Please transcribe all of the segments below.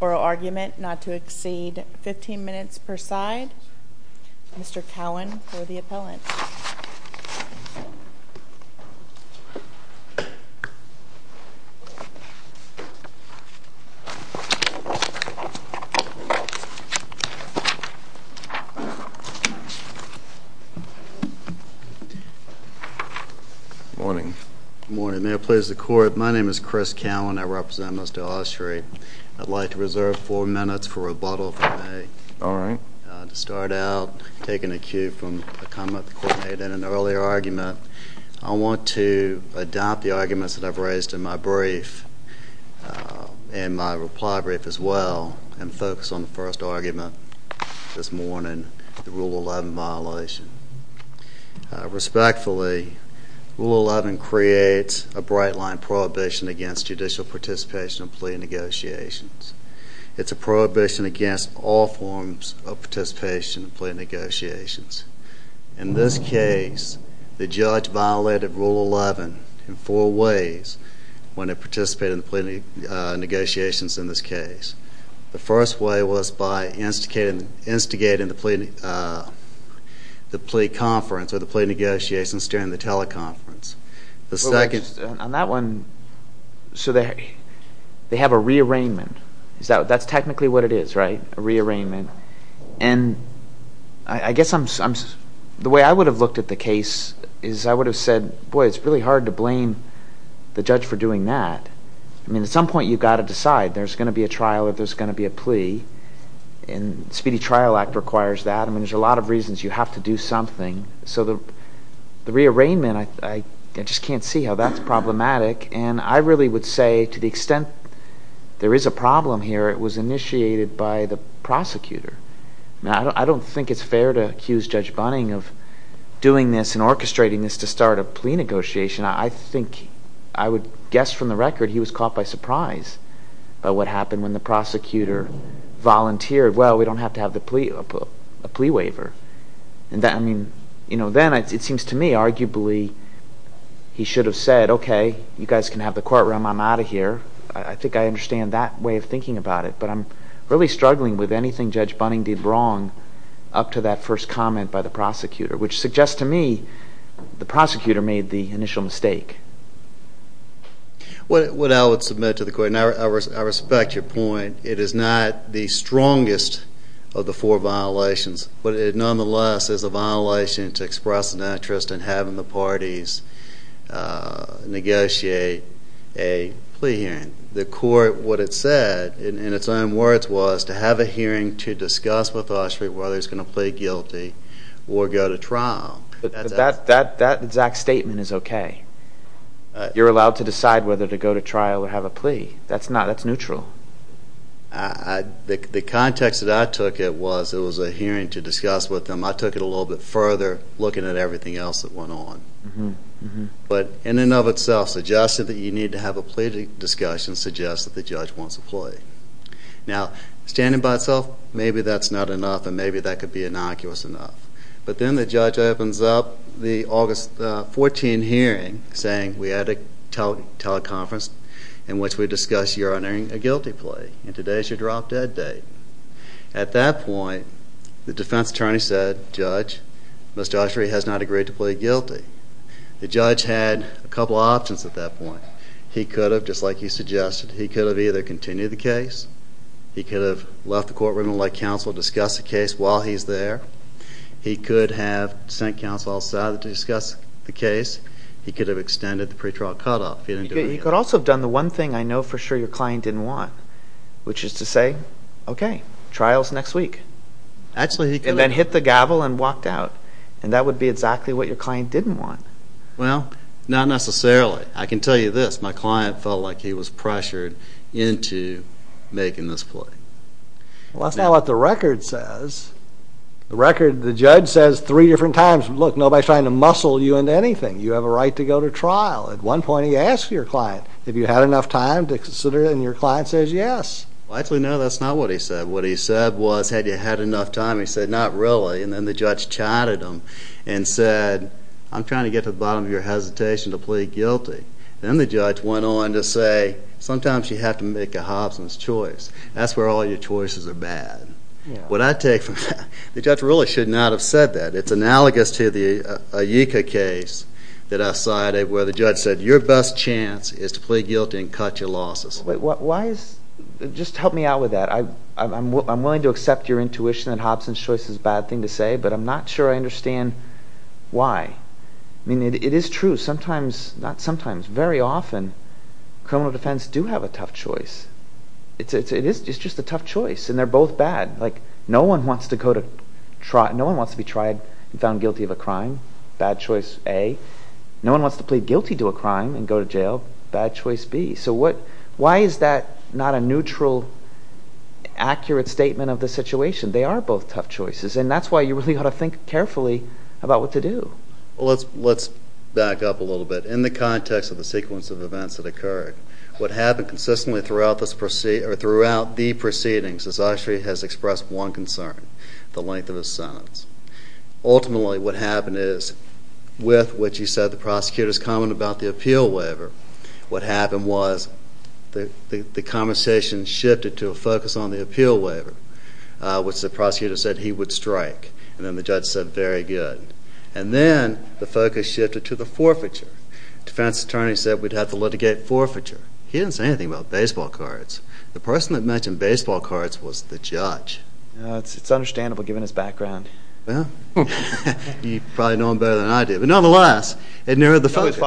Oral argument not to exceed 15 minutes per side. Mr. Cowan for the appellant. Good morning. Good morning. May it please the court, my name is Chris Cowan. I represent Mr. Ushery. I'd like to reserve four minutes for rebuttal if I may. All right. To start out, taking a cue from a comment the court made in an earlier argument, I want to adopt the arguments that I've raised in my brief and my reply brief as well and focus on the first argument this morning, the Rule 11 violation. Respectfully, Rule 11 creates a bright line prohibition against judicial participation in plea negotiations. It's a prohibition against all forms of participation in plea negotiations. In this case, the judge violated Rule 11 in four ways when it participated in the plea negotiations in this case. The first way was by instigating the plea conference or the plea negotiations during the teleconference. On that one, so they have a rearrangement. That's technically what it is, right? A rearrangement. And I guess the way I would have looked at the case is I would have said, boy, it's really hard to blame the judge for doing that. I mean, at some point, you've got to decide. There's going to be a trial or there's going to be a plea. And the Speedy Trial Act requires that. I mean, there's a lot of reasons you have to do something. So the rearrangement, I just can't see how that's problematic. And I really would say to the extent there is a problem here, it was initiated by the prosecutor. Now, I don't think it's fair to accuse Judge Bunning of doing this and orchestrating this to start a plea negotiation. I think I would guess from the record he was caught by surprise by what happened when the prosecutor volunteered, well, we don't have to have a plea waiver. Then it seems to me, arguably, he should have said, okay, you guys can have the courtroom. I'm out of here. I think I understand that way of thinking about it. But I'm really struggling with anything Judge Bunning did wrong up to that first comment by the prosecutor, which suggests to me the prosecutor made the initial mistake. What I would submit to the court, and I respect your point, it is not the strongest of the four violations, but it nonetheless is a violation to express an interest in having the parties negotiate a plea hearing. The court, what it said, in its own words, was to have a hearing to discuss with Oshery whether he's going to plead guilty or go to trial. But that exact statement is okay. You're allowed to decide whether to go to trial or have a plea. That's not, that's neutral. The context that I took it was, it was a hearing to discuss with them. I took it a little bit further, looking at everything else that went on. But in and of itself, suggesting that you need to have a plea discussion suggests that the judge wants a plea. Now, standing by itself, maybe that's not enough, and maybe that could be innocuous enough. But then the judge opens up the August 14 hearing, saying we had a teleconference in which we discussed your honoring a guilty plea, and today is your drop-dead date. At that point, the defense attorney said, Judge, Mr. Oshery has not agreed to plead guilty. The judge had a couple options at that point. He could have, just like you suggested, he could have either continued the case, he could have left the courtroom and let counsel discuss the case while he's there, he could have sent counsel outside to discuss the case, he could have extended the pretrial cutoff. He could also have done the one thing I know for sure your client didn't want, which is to say, okay, trial's next week. And then hit the gavel and walked out. And that would be exactly what your client didn't want. Well, not necessarily. I can tell you this, my client felt like he was pressured into making this plea. Well, that's not what the record says. The record, the judge says three different times, look, nobody's trying to muscle you into anything. You have a right to go to trial. At one point he asks your client, have you had enough time to consider it, and your client says yes. Well, actually, no, that's not what he said. What he said was, had you had enough time, he said not really, and then the judge chatted him and said, I'm trying to get to the bottom of your hesitation to plead guilty. Then the judge went on to say, sometimes you have to make a Hobson's choice. That's where all your choices are bad. What I take from that, the judge really should not have said that. It's analogous to the IECA case that I cited where the judge said, your best chance is to plead guilty and cut your losses. Just help me out with that. I'm willing to accept your intuition that Hobson's choice is a bad thing to say, but I'm not sure I understand why. I mean, it is true, sometimes, not sometimes, very often, criminal defense do have a tough choice. It is just a tough choice, and they're both bad. No one wants to be tried and found guilty of a crime. Bad choice A. No one wants to plead guilty to a crime and go to jail. Bad choice B. So why is that not a neutral, accurate statement of the situation? They are both tough choices, and that's why you really ought to think carefully about what to do. Let's back up a little bit. In the context of the sequence of events that occurred, what happened consistently throughout the proceedings is Oshery has expressed one concern, the length of his sentence. Ultimately, what happened is, with what you said, the prosecutor's comment about the appeal waiver, what happened was the conversation shifted to a focus on the appeal waiver, which the prosecutor said he would strike. And then the judge said, very good. And then the focus shifted to the forfeiture. Defense attorney said we'd have to litigate forfeiture. He didn't say anything about baseball cards. The person that mentioned baseball cards was the judge. It's understandable, given his background. You probably know him better than I do, but nonetheless, it narrowed the focus. The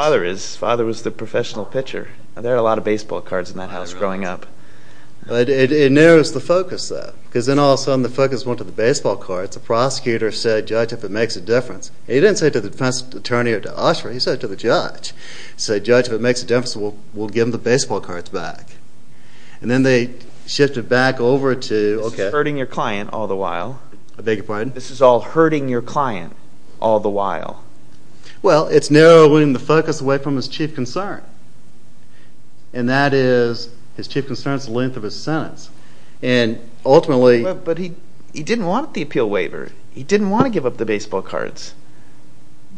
prosecutor said, judge, if it makes a difference. He didn't say it to the defense attorney or to Oshery. He said it to the judge. He said, judge, if it makes a difference, we'll give him the baseball cards back. And then they shifted back over to... This is hurting your client all the while. I beg your pardon? This is all hurting your client all the while. Well, it's narrowing the focus away from his chief concern. And that is, his chief concern is the length of his sentence. And ultimately... But he didn't want the appeal waiver. He didn't want to give up the baseball cards.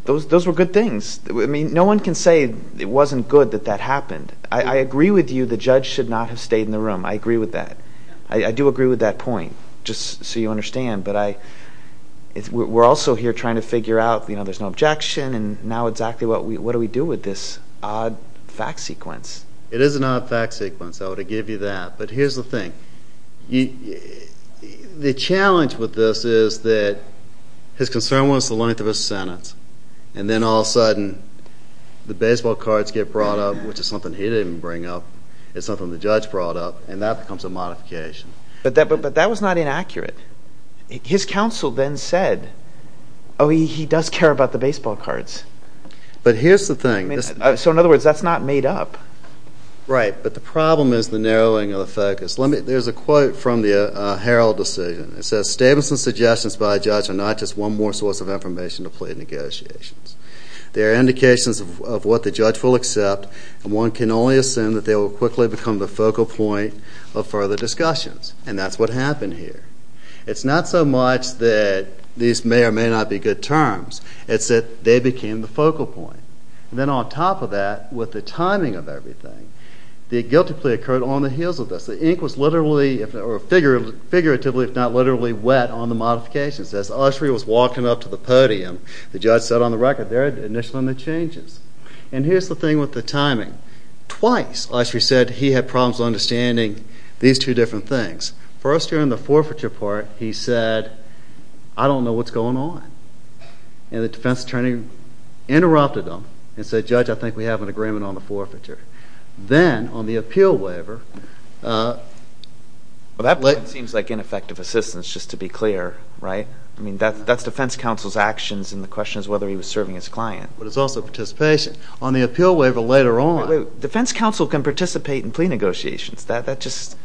Those were good things. I mean, no one can say it wasn't good that that happened. I agree with you the judge should not have stayed in the room. I agree with that. I do agree with that point, just so you understand. But we're also here trying to figure out, you know, there's no objection. And now exactly what do we do with this odd fact sequence? It is an odd fact sequence. I want to give you that. But here's the thing. The challenge with this is that his concern was the length of his sentence. And then all of a sudden, the baseball cards get brought up, which is something he didn't bring up. It's something the judge brought up. And that becomes a modification. But that was not inaccurate. His counsel then said, oh, he does care about the baseball cards. But here's the thing. So in other words, that's not made up. Right. But the problem is the narrowing of the focus. There's a quote from the Herald decision. It says, Statements and suggestions by a judge are not just one more source of information to plead negotiations. They are indications of what the judge will accept, and one can only assume that they will quickly become the focal point of further discussions. And that's what happened here. It's not so much that these may or may not be good terms. It's that they became the focal point. And then on top of that, with the timing of everything, the guilty plea occurred on the heels of this. The ink was literally, or figuratively if not literally, wet on the modifications. As Oshry was walking up to the podium, the judge said on the record, they're initialing the changes. And here's the thing with the timing. Twice, Oshry said he had problems understanding these two different things. First, during the forfeiture part, he said, I don't know what's going on. And the defense attorney interrupted him and said, Judge, I think we have an agreement on the forfeiture. Then, on the appeal waiver, Well, that seems like ineffective assistance, just to be clear, right? I mean, that's defense counsel's actions, and the question is whether he was serving his client. But it's also participation. On the appeal waiver later on Defense counsel can participate in plea negotiations. That just,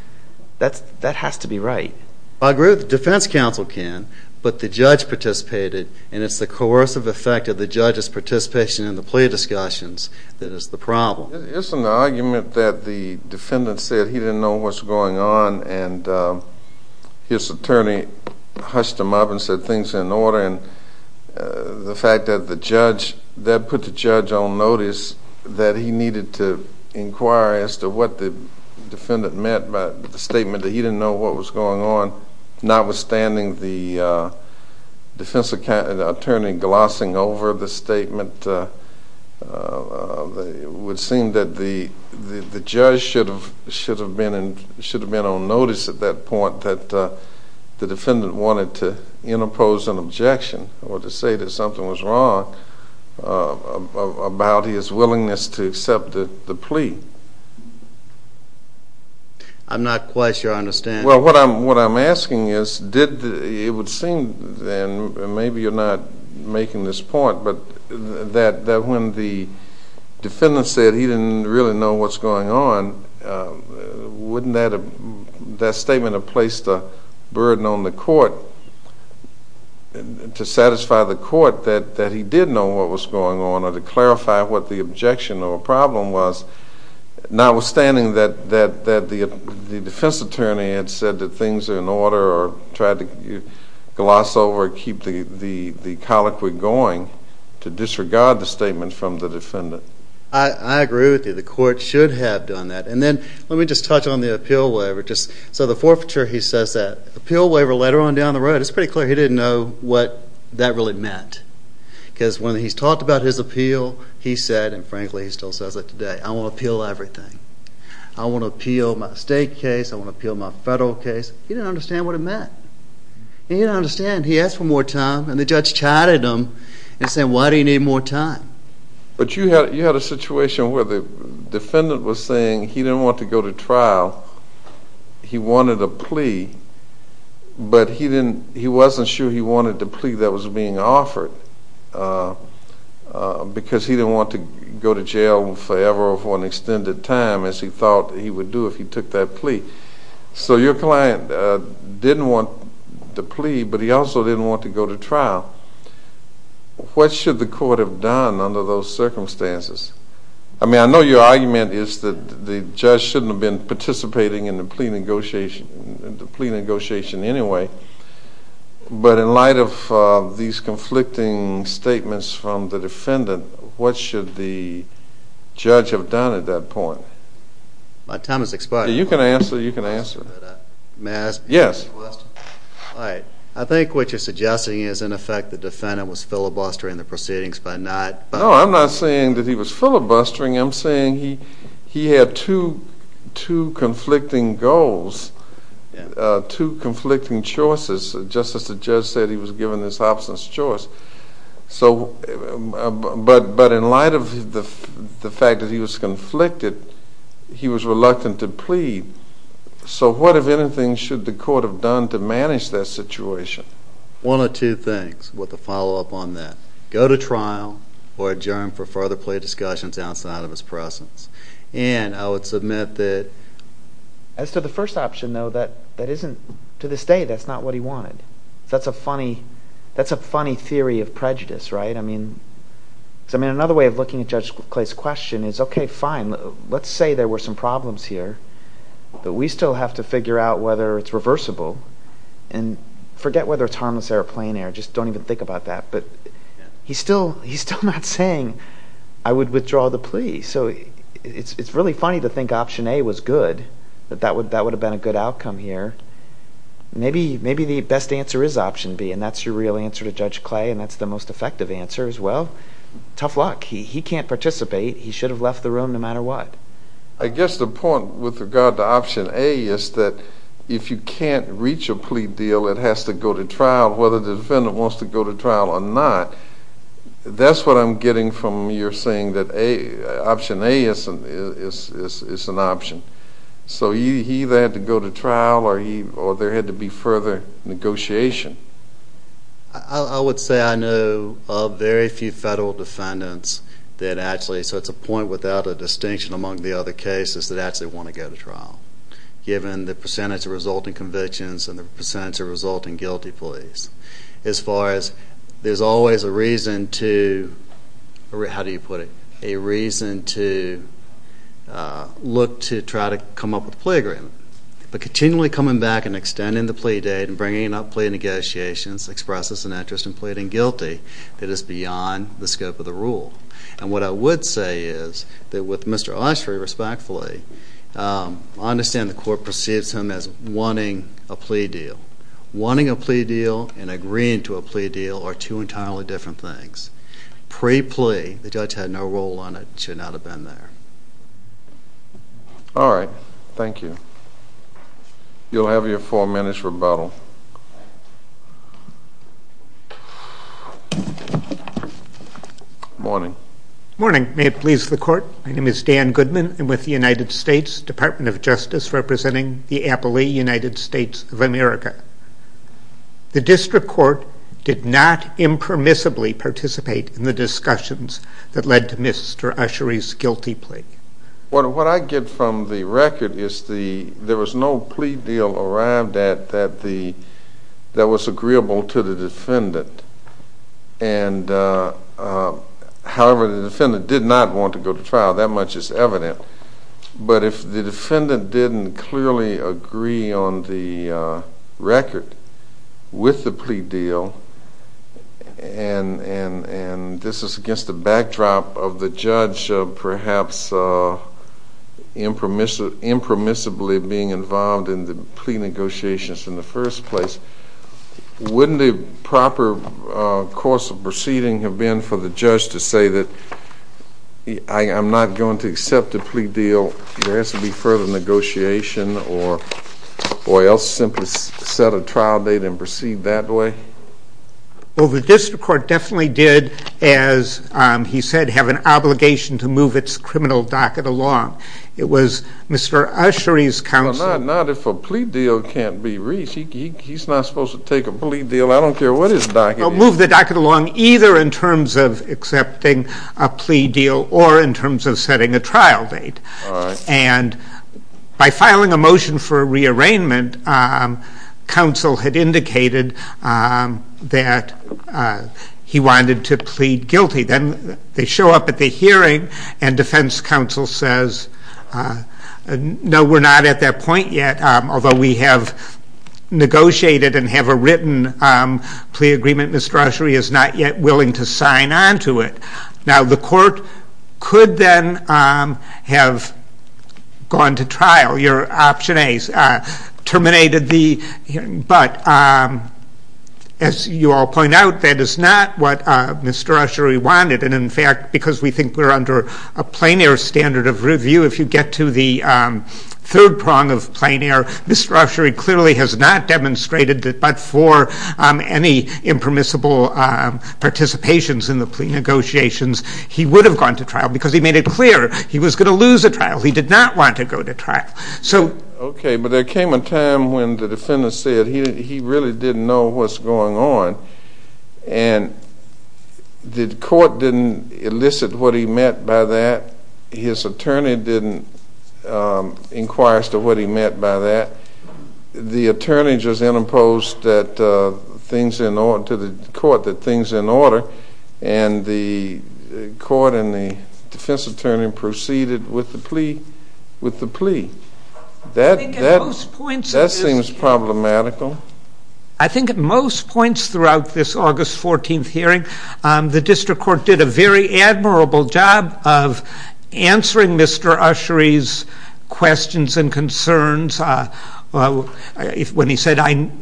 that has to be right. I agree with the defense counsel can, but the judge participated, and it's the coercive effect of the judge's participation in the plea discussions that is the problem. It's an argument that the defendant said he didn't know what's going on, and his attorney hushed him up and said things are in order. And the fact that the judge, that put the judge on notice that he needed to inquire as to what the defendant meant by the statement that he didn't know what was going on, notwithstanding the defense attorney glossing over the statement. It would seem that the judge should have been on notice at that point that the defendant wanted to interpose an objection or to say that something was wrong about his willingness to accept the plea. I'm not quite sure I understand. Well, what I'm asking is, it would seem then, and maybe you're not making this point, but that when the defendant said he didn't really know what's going on, wouldn't that statement have placed a burden on the court to satisfy the court that he did know what was going on or to clarify what the objection or problem was, notwithstanding that the defense attorney had said that things are in order or tried to gloss over it, keep the colloquy going to disregard the statement from the defendant. I agree with you. The court should have done that. And then let me just touch on the appeal waiver. So the forfeiture, he says that. Appeal waiver later on down the road, it's pretty clear he didn't know what that really meant because when he's talked about his appeal, he said, and frankly he still says it today, I want to appeal everything. I want to appeal my state case. I want to appeal my federal case. He didn't understand what it meant. He didn't understand. He asked for more time, and the judge chided him and said, why do you need more time? But you had a situation where the defendant was saying he didn't want to go to trial. He wanted a plea, but he wasn't sure he wanted the plea that was being offered because he didn't want to go to jail forever or for an extended time as he thought he would do if he took that plea. So your client didn't want the plea, but he also didn't want to go to trial. What should the court have done under those circumstances? I mean, I know your argument is that the judge shouldn't have been participating in the plea negotiation anyway, but in light of these conflicting statements from the defendant, what should the judge have done at that point? My time has expired. You can answer. You can answer. May I ask a question? Yes. All right. I think what you're suggesting is, in effect, the defendant was filibustering the proceedings by not- No, I'm not saying that he was filibustering. I'm saying he had two conflicting goals, two conflicting choices, just as the judge said he was given this absence choice. But in light of the fact that he was conflicted, he was reluctant to plead. So what, if anything, should the court have done to manage that situation? One of two things with a follow-up on that. Go to trial or adjourn for further plea discussions outside of his presence. And I would submit that- As to the first option, though, that isn't – to this day, that's not what he wanted. That's a funny theory of prejudice, right? I mean, another way of looking at Judge Clay's question is, okay, fine. Let's say there were some problems here, but we still have to figure out whether it's reversible. And forget whether it's harmless air or plain air. Just don't even think about that. But he's still not saying, I would withdraw the plea. So it's really funny to think option A was good, that that would have been a good outcome here. Maybe the best answer is option B, and that's your real answer to Judge Clay, and that's the most effective answer. Well, tough luck. He can't participate. He should have left the room no matter what. I guess the point with regard to option A is that if you can't reach a plea deal, it has to go to trial, whether the defendant wants to go to trial or not. That's what I'm getting from your saying that option A is an option. So he either had to go to trial or there had to be further negotiation. I would say I know of very few federal defendants that actually, so it's a point without a distinction among the other cases, that actually want to go to trial, given the percentage of resulting convictions and the percentage of resulting guilty pleas. As far as there's always a reason to, how do you put it, a reason to look to try to come up with a plea agreement. But continually coming back and extending the plea date and bringing up plea negotiations expresses an interest in pleading guilty that is beyond the scope of the rule. And what I would say is that with Mr. Oshry, respectfully, I understand the court perceives him as wanting a plea deal. Wanting a plea deal and agreeing to a plea deal are two entirely different things. Pre-plea, the judge had no role on it. It should not have been there. All right. Thank you. You'll have your four minutes rebuttal. Morning. Morning. May it please the court. My name is Dan Goodman. I'm with the United States Department of Justice representing the Appalachian United States of America. The district court did not impermissibly participate in the discussions that led to Mr. Oshry's guilty plea. What I get from the record is there was no plea deal arrived at that was agreeable to the defendant. However, the defendant did not want to go to trial. That much is evident. But if the defendant didn't clearly agree on the record with the plea deal, and this is against the backdrop of the judge perhaps impermissibly being involved in the plea negotiations in the first place, wouldn't the proper course of proceeding have been for the judge to say that I'm not going to accept a plea deal, there has to be further negotiation, or else simply set a trial date and proceed that way? Well, the district court definitely did, as he said, have an obligation to move its criminal docket along. It was Mr. Oshry's counsel No, not if a plea deal can't be reached. He's not supposed to take a plea deal. I don't care what his docket is. Move the docket along either in terms of accepting a plea deal or in terms of setting a trial date. And by filing a motion for a rearrangement, counsel had indicated that he wanted to plead guilty. Then they show up at the hearing and defense counsel says, no, we're not at that point yet. Although we have negotiated and have a written plea agreement, Mr. Oshry is not yet willing to sign on to it. Now the court could then have gone to trial, your option A, terminated the hearing. But as you all point out, that is not what Mr. Oshry wanted. And in fact, because we think we're under a plein air standard of review, if you get to the third prong of plein air, Mr. Oshry clearly has not demonstrated that but for any impermissible participations in the plea negotiations, he would have gone to trial because he made it clear he was going to lose a trial. He did not want to go to trial. Okay, but there came a time when the defendant said he really didn't know what's going on. And the court didn't elicit what he meant by that. His attorney didn't inquire as to what he meant by that. The attorney just interposed to the court that things are in order, and the court and the defense attorney proceeded with the plea. That seems problematical. I think at most points throughout this August 14th hearing, the district court did a very admirable job of answering Mr. Oshry's questions and concerns. When he said, I'm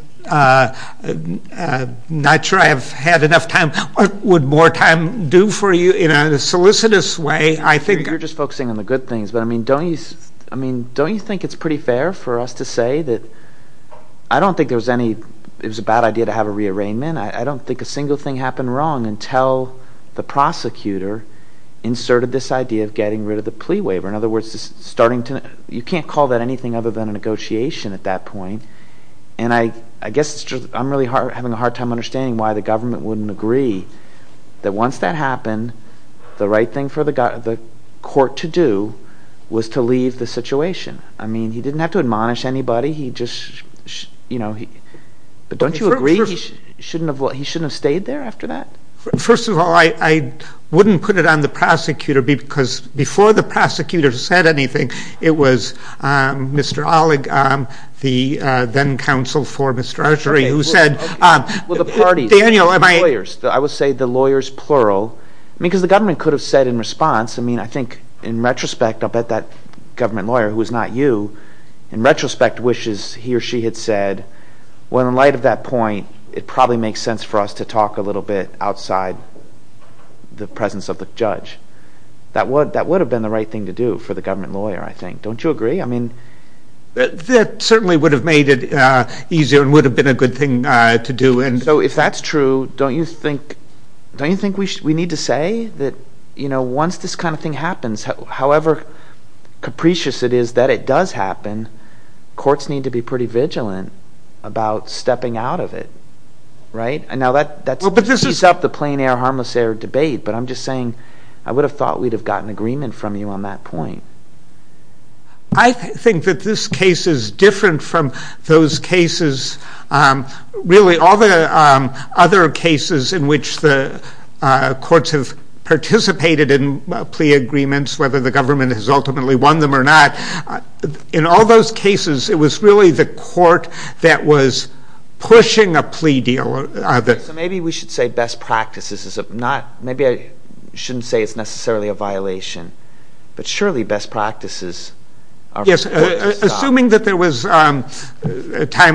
not sure I've had enough time, what would more time do for you? In a solicitous way, I think... You're just focusing on the good things. But I mean, don't you think it's pretty fair for us to say that I don't think it was a bad idea to have a rearrangement. I don't think a single thing happened wrong until the prosecutor inserted this idea of getting rid of the plea waiver. In other words, you can't call that anything other than a negotiation at that point. And I guess I'm having a hard time understanding why the government wouldn't agree that once that happened, the right thing for the court to do was to leave the situation. I mean, he didn't have to admonish anybody. But don't you agree he shouldn't have stayed there after that? First of all, I wouldn't put it on the prosecutor because before the prosecutor said anything, it was Mr. Olig, the then counsel for Mr. Oshry, who said... Well, the parties, the lawyers. I would say the lawyers, plural. Because the government could have said in response, I mean, I think in retrospect, I'll bet that government lawyer, who is not you, in retrospect wishes he or she had said, well, in light of that point, it probably makes sense for us to talk a little bit outside the presence of the judge. That would have been the right thing to do for the government lawyer, I think. Don't you agree? I mean... That certainly would have made it easier and would have been a good thing to do. So if that's true, don't you think we need to say that once this kind of thing happens, however capricious it is that it does happen, courts need to be pretty vigilant about stepping out of it, right? And now that speeds up the plain air, harmless air debate, but I'm just saying I would have thought we'd have gotten agreement from you on that point. I think that this case is different from those cases, really all the other cases in which the courts have participated in plea agreements, whether the government has ultimately won them or not, in all those cases it was really the court that was pushing a plea deal. So maybe we should say best practices, maybe I shouldn't say it's necessarily a violation, but surely best practices are... Assuming that there was time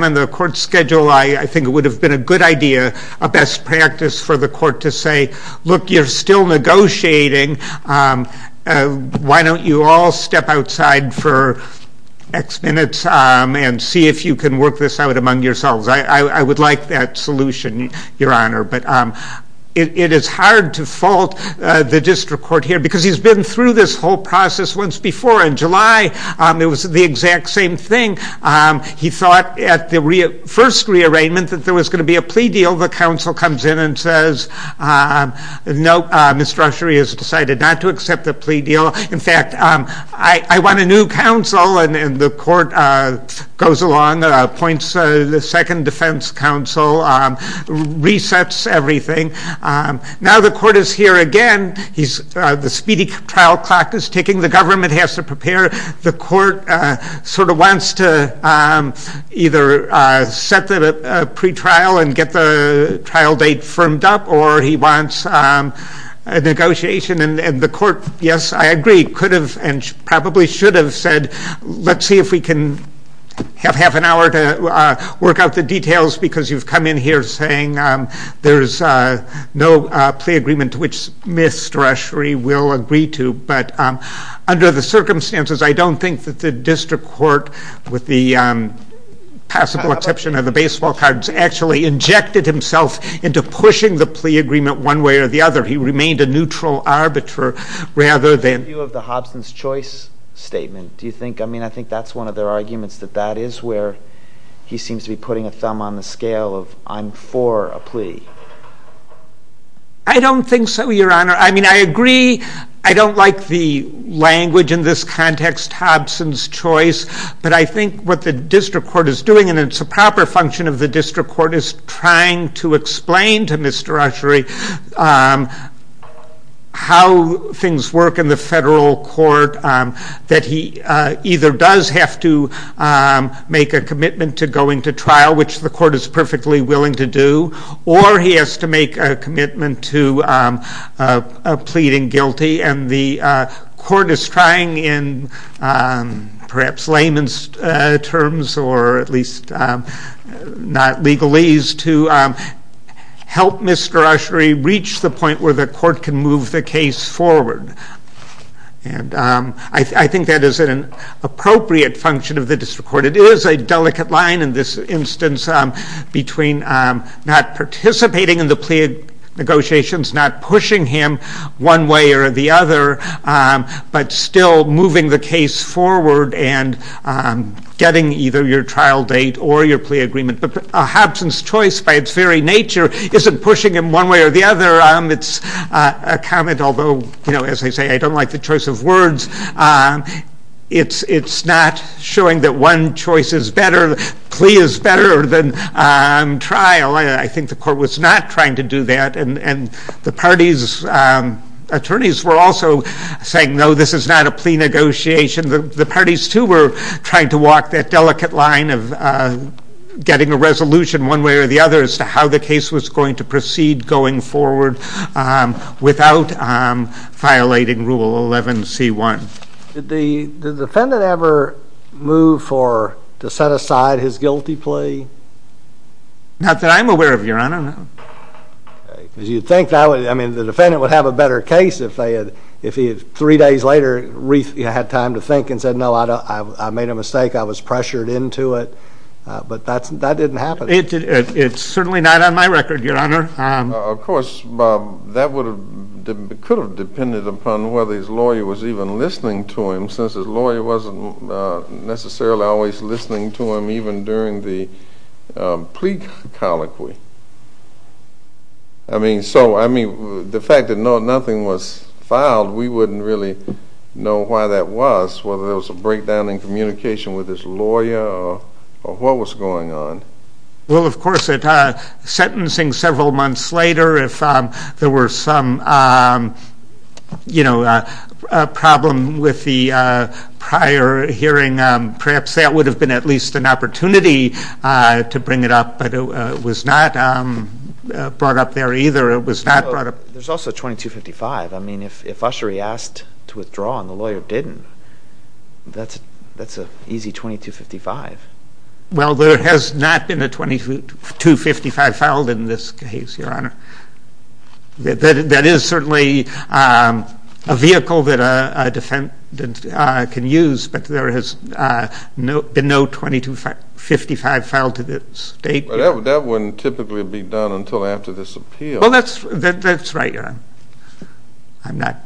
on the court schedule, I think it would have been a good idea, a best practice for the court to say, look, you're still negotiating, why don't you all step outside for X minutes and see if you can work this out among yourselves. I would like that solution, Your Honor, but it is hard to fault the district court here because he's been through this whole process once before. In July it was the exact same thing. He thought at the first rearrangement that there was going to be a plea deal. The counsel comes in and says, no, Ms. Drusherie has decided not to accept the plea deal. In fact, I want a new counsel, and the court goes along, appoints the second defense counsel, resets everything. Now the court is here again, the speedy trial clock is ticking, the government has to prepare, the court sort of wants to either set a pretrial and get the trial date firmed up or he wants a negotiation, and the court, yes, I agree, could have and probably should have said, let's see if we can have half an hour to work out the details because you've come in here saying there's no plea agreement to which Ms. Drusherie will agree to, but under the circumstances, I don't think that the district court, with the possible exception of the baseball cards, actually injected himself into pushing the plea agreement one way or the other. He remained a neutral arbiter rather than... In view of the Hobson's choice statement, do you think, I mean, I think that's one of their arguments, that that is where he seems to be putting a thumb on the scale of I'm for a plea? I don't think so, Your Honor. I mean, I agree, I don't like the language in this context, Hobson's choice, but I think what the district court is doing, and it's a proper function of the district court, is trying to explain to Ms. Drusherie how things work in the federal court, that he either does have to make a commitment to going to trial, which the court is perfectly willing to do, or he has to make a commitment to pleading guilty, and the court is trying in perhaps layman's terms, or at least not legalese, to help Ms. Drusherie reach the point where the court can move the case forward. And I think that is an appropriate function of the district court. It is a delicate line in this instance between not participating in the plea negotiations, not pushing him one way or the other, but still moving the case forward and getting either your trial date or your plea agreement. But Hobson's choice, by its very nature, isn't pushing him one way or the other. It's a comment, although, as I say, I don't like the choice of words. It's not showing that one choice is better, plea is better than trial. I think the court was not trying to do that, and the parties' attorneys were also saying, no, this is not a plea negotiation. The parties, too, were trying to walk that delicate line of getting a resolution one way or the other as to how the case was going to proceed going forward without violating Rule 11C1. Did the defendant ever move to set aside his guilty plea? Not that I'm aware of, Your Honor. You'd think the defendant would have a better case if three days later he had time to think and said, no, I made a mistake, I was pressured into it, but that didn't happen. It's certainly not on my record, Your Honor. Of course, Bob, that could have depended upon whether his lawyer was even listening to him, since his lawyer wasn't necessarily always listening to him even during the plea colloquy. I mean, the fact that nothing was filed, we wouldn't really know why that was, whether there was a breakdown in communication with his lawyer or what was going on. Well, of course, sentencing several months later, if there were some problem with the prior hearing, perhaps that would have been at least an opportunity to bring it up, but it was not brought up there either. There's also 2255. I mean, if ushery asked to withdraw and the lawyer didn't, that's an easy 2255. Well, there has not been a 2255 filed in this case, Your Honor. That is certainly a vehicle that a defendant can use, but there has been no 2255 filed to this date. That wouldn't typically be done until after this appeal. Well, that's right, Your Honor. I'm not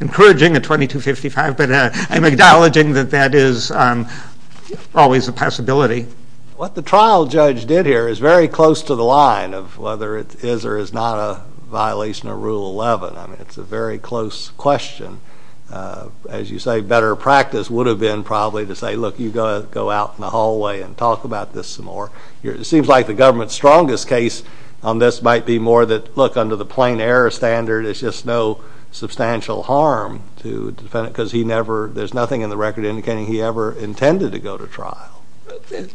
encouraging a 2255, but I'm acknowledging that that is always a possibility. What the trial judge did here is very close to the line of whether it is or is not a violation of Rule 11. I mean, it's a very close question. As you say, better practice would have been probably to say, look, you go out in the hallway and talk about this some more. It seems like the government's strongest case on this might be more that, look, under the plain error standard, it's just no substantial harm to the defendant because there's nothing in the record indicating he ever intended to go to trial. Certainly,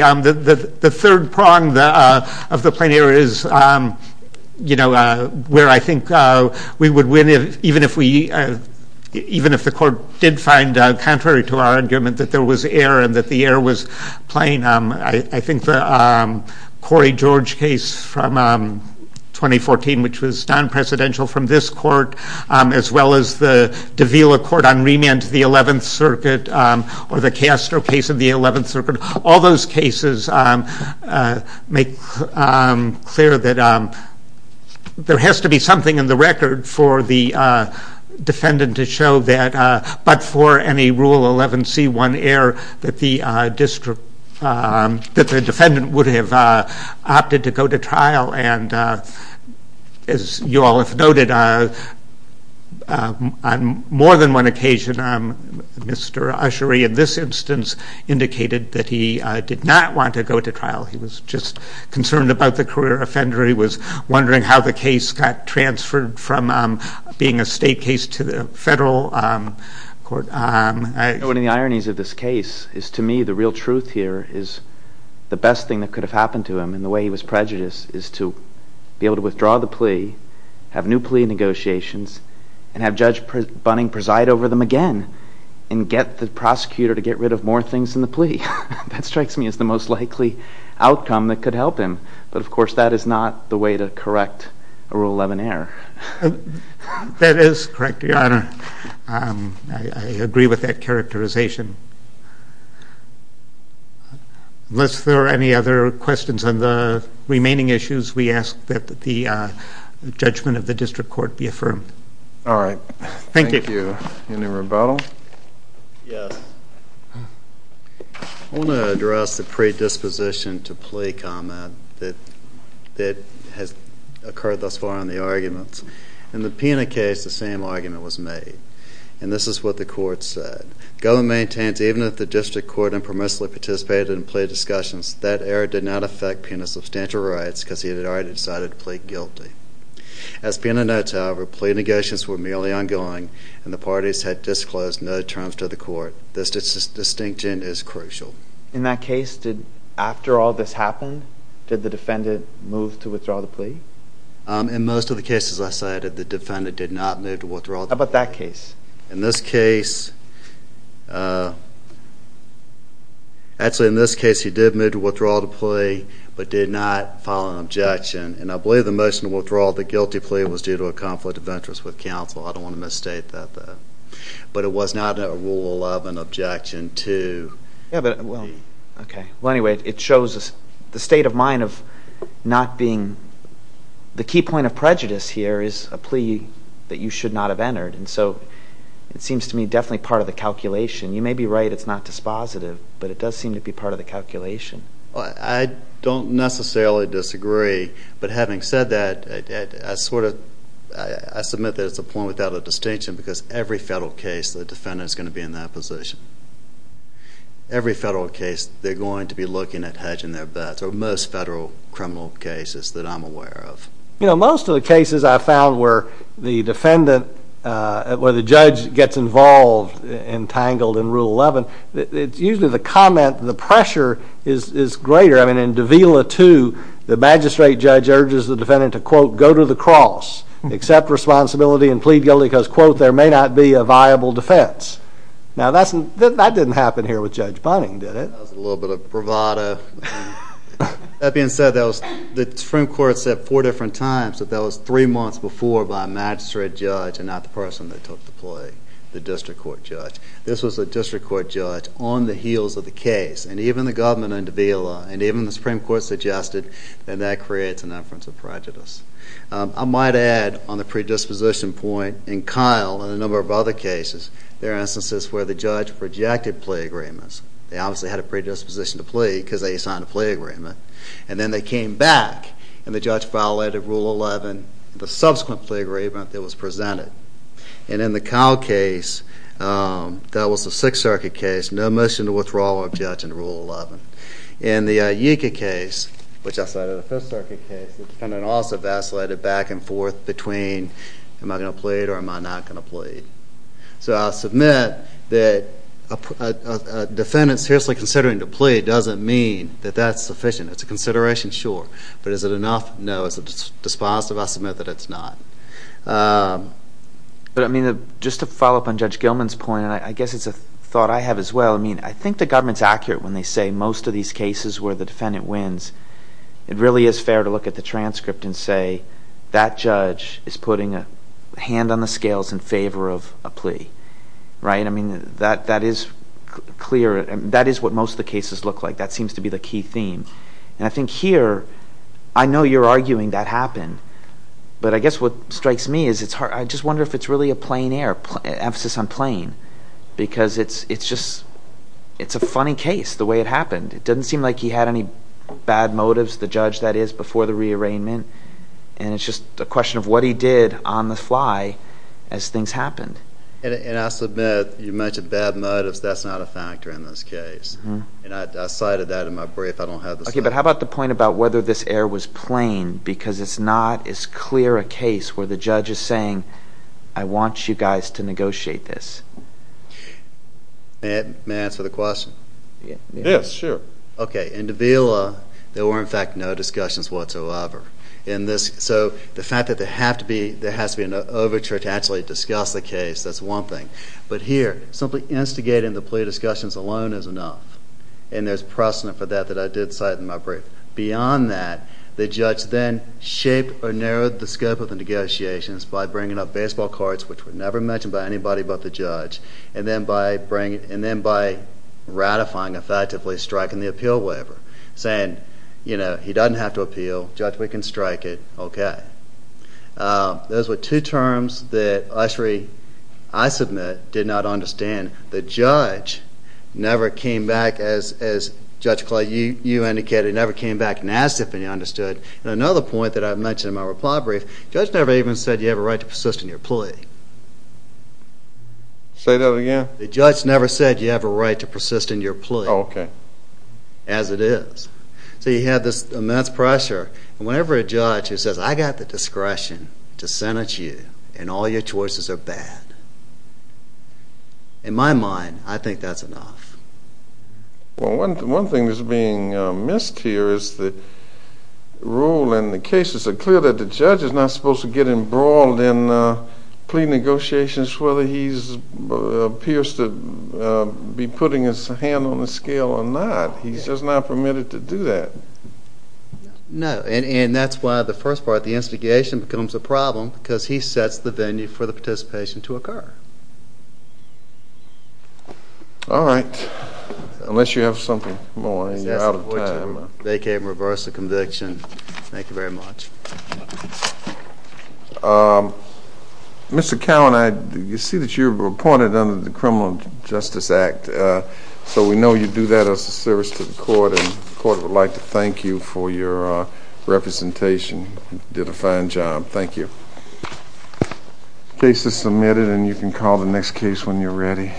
the third prong of the plain error is where I think we would win, even if the court did find, contrary to our argument, that there was error and that the error was plain. I think the Corey George case from 2014, which was non-presidential from this court, as well as the Davila Court on remand to the 11th Circuit or the Castro case of the 11th Circuit, all those cases make clear that there has to be something in the record for the defendant to show that, but for any Rule 11c1 error, that the defendant would have opted to go to trial. As you all have noted, on more than one occasion, Mr. Ushery in this instance indicated that he did not want to go to trial. He was just concerned about the career offender. He was wondering how the case got transferred from being a state case to the federal court. One of the ironies of this case is, to me, the real truth here is the best thing that could have happened to him in the way he was prejudiced is to be able to withdraw the plea, have new plea negotiations, and have Judge Bunning preside over them again and get the prosecutor to get rid of more things than the plea. That strikes me as the most likely outcome that could help him. But, of course, that is not the way to correct a Rule 11 error. That is correct, Your Honor. I agree with that characterization. Unless there are any other questions on the remaining issues, we ask that the judgment of the district court be affirmed. All right. Thank you. Thank you. Any rebuttal? Yes. I want to address the predisposition to plea comment that has occurred thus far in the arguments. In the PINA case, the same argument was made, and this is what the court said. The government maintains that even if the district court impermissibly participated in plea discussions, that error did not affect PINA's substantial rights because he had already decided to plead guilty. As PINA notes, however, plea negotiations were merely ongoing, and the parties had disclosed no terms to the court. This distinction is crucial. In that case, after all this happened, did the defendant move to withdraw the plea? In most of the cases I cited, the defendant did not move to withdraw the plea. How about that case? In this case, actually, in this case, he did move to withdraw the plea but did not file an objection. And I believe the motion to withdraw the guilty plea was due to a conflict of interest with counsel. I don't want to misstate that, though. But it was not a rule of an objection to the plea. Well, anyway, it shows the state of mind of not being – the key point of prejudice here is a plea that you should not have entered. And so it seems to me definitely part of the calculation. You may be right, it's not dispositive, but it does seem to be part of the calculation. I don't necessarily disagree, but having said that, I submit that it's a point without a distinction because every federal case, the defendant is going to be in that position. Every federal case, they're going to be looking at hedging their bets, or most federal criminal cases that I'm aware of. You know, most of the cases I've found where the defendant, where the judge gets involved and tangled in Rule 11, it's usually the comment, the pressure is greater. I mean, in Davila 2, the magistrate judge urges the defendant to, quote, go to the cross, accept responsibility, and plead guilty because, quote, there may not be a viable defense. Now, that didn't happen here with Judge Bunning, did it? That was a little bit of bravado. That being said, the Supreme Court said four different times that that was three months before by a magistrate judge and not the person that took the plea, the district court judge. This was a district court judge on the heels of the case, and even the government in Davila, and even the Supreme Court suggested that that creates an inference of prejudice. I might add, on the predisposition point, in Kyle and a number of other cases, there are instances where the judge rejected plea agreements. They obviously had a predisposition to plead because they signed a plea agreement. And then they came back, and the judge violated Rule 11, the subsequent plea agreement that was presented. And in the Kyle case, that was the Sixth Circuit case, no motion to withdraw objection to Rule 11. In the Yinka case, which I cited, the Fifth Circuit case, the defendant also vacillated back and forth between am I going to plead or am I not going to plead? So I'll submit that a defendant seriously considering to plead doesn't mean that that's sufficient. It's a consideration, sure. But is it enough? No. Is it dispositive? I submit that it's not. But, I mean, just to follow up on Judge Gilman's point, and I guess it's a thought I have as well, I mean, I think the government's accurate when they say most of these cases where the defendant wins, it really is fair to look at the transcript and say that judge is putting a hand on the scales in favor of a plea, right? I mean, that is clear. That is what most of the cases look like. That seems to be the key theme. And I think here, I know you're arguing that happened. But I guess what strikes me is I just wonder if it's really a plain air, emphasis on plain, because it's just a funny case the way it happened. It doesn't seem like he had any bad motives, the judge, that is, before the rearrangement. And it's just a question of what he did on the fly as things happened. And I submit you mentioned bad motives. That's not a factor in this case. And I cited that in my brief. I don't have the statement. Okay, but how about the point about whether this air was plain because it's not as clear a case where the judge is saying, I want you guys to negotiate this. May I answer the question? Yes, sure. Okay, in Davila, there were, in fact, no discussions whatsoever. So the fact that there has to be an overture to actually discuss the case, that's one thing. But here, simply instigating the plea discussions alone is enough. And there's precedent for that that I did cite in my brief. Beyond that, the judge then shaped or narrowed the scope of the negotiations by bringing up baseball cards, which were never mentioned by anybody but the judge, and then by ratifying, effectively striking the appeal waiver, saying, you know, he doesn't have to appeal. Judge, we can strike it. Okay. Those were two terms that ushery, I submit, did not understand. The judge never came back, as Judge Clyde, you indicated, never came back and asked if any understood. And another point that I mentioned in my reply brief, the judge never even said you have a right to persist in your plea. The judge never said you have a right to persist in your plea. Okay. As it is. So you have this immense pressure. And whenever a judge says, I've got the discretion to sentence you, and all your choices are bad, in my mind, I think that's enough. Well, one thing that's being missed here is the rule and the cases are clear that the judge is not supposed to get embroiled in plea negotiations whether he appears to be putting his hand on the scale or not. He's just not permitted to do that. No. And that's why the first part, the instigation, becomes a problem because he sets the venue for the participation to occur. All right. Unless you have something more and you're out of time. Vacate and reverse the conviction. Thank you very much. Mr. Cowan, I see that you're appointed under the Criminal Justice Act. So we know you do that as a service to the court, and the court would like to thank you for your representation. You did a fine job. Thank you. Case is submitted, and you can call the next case when you're ready.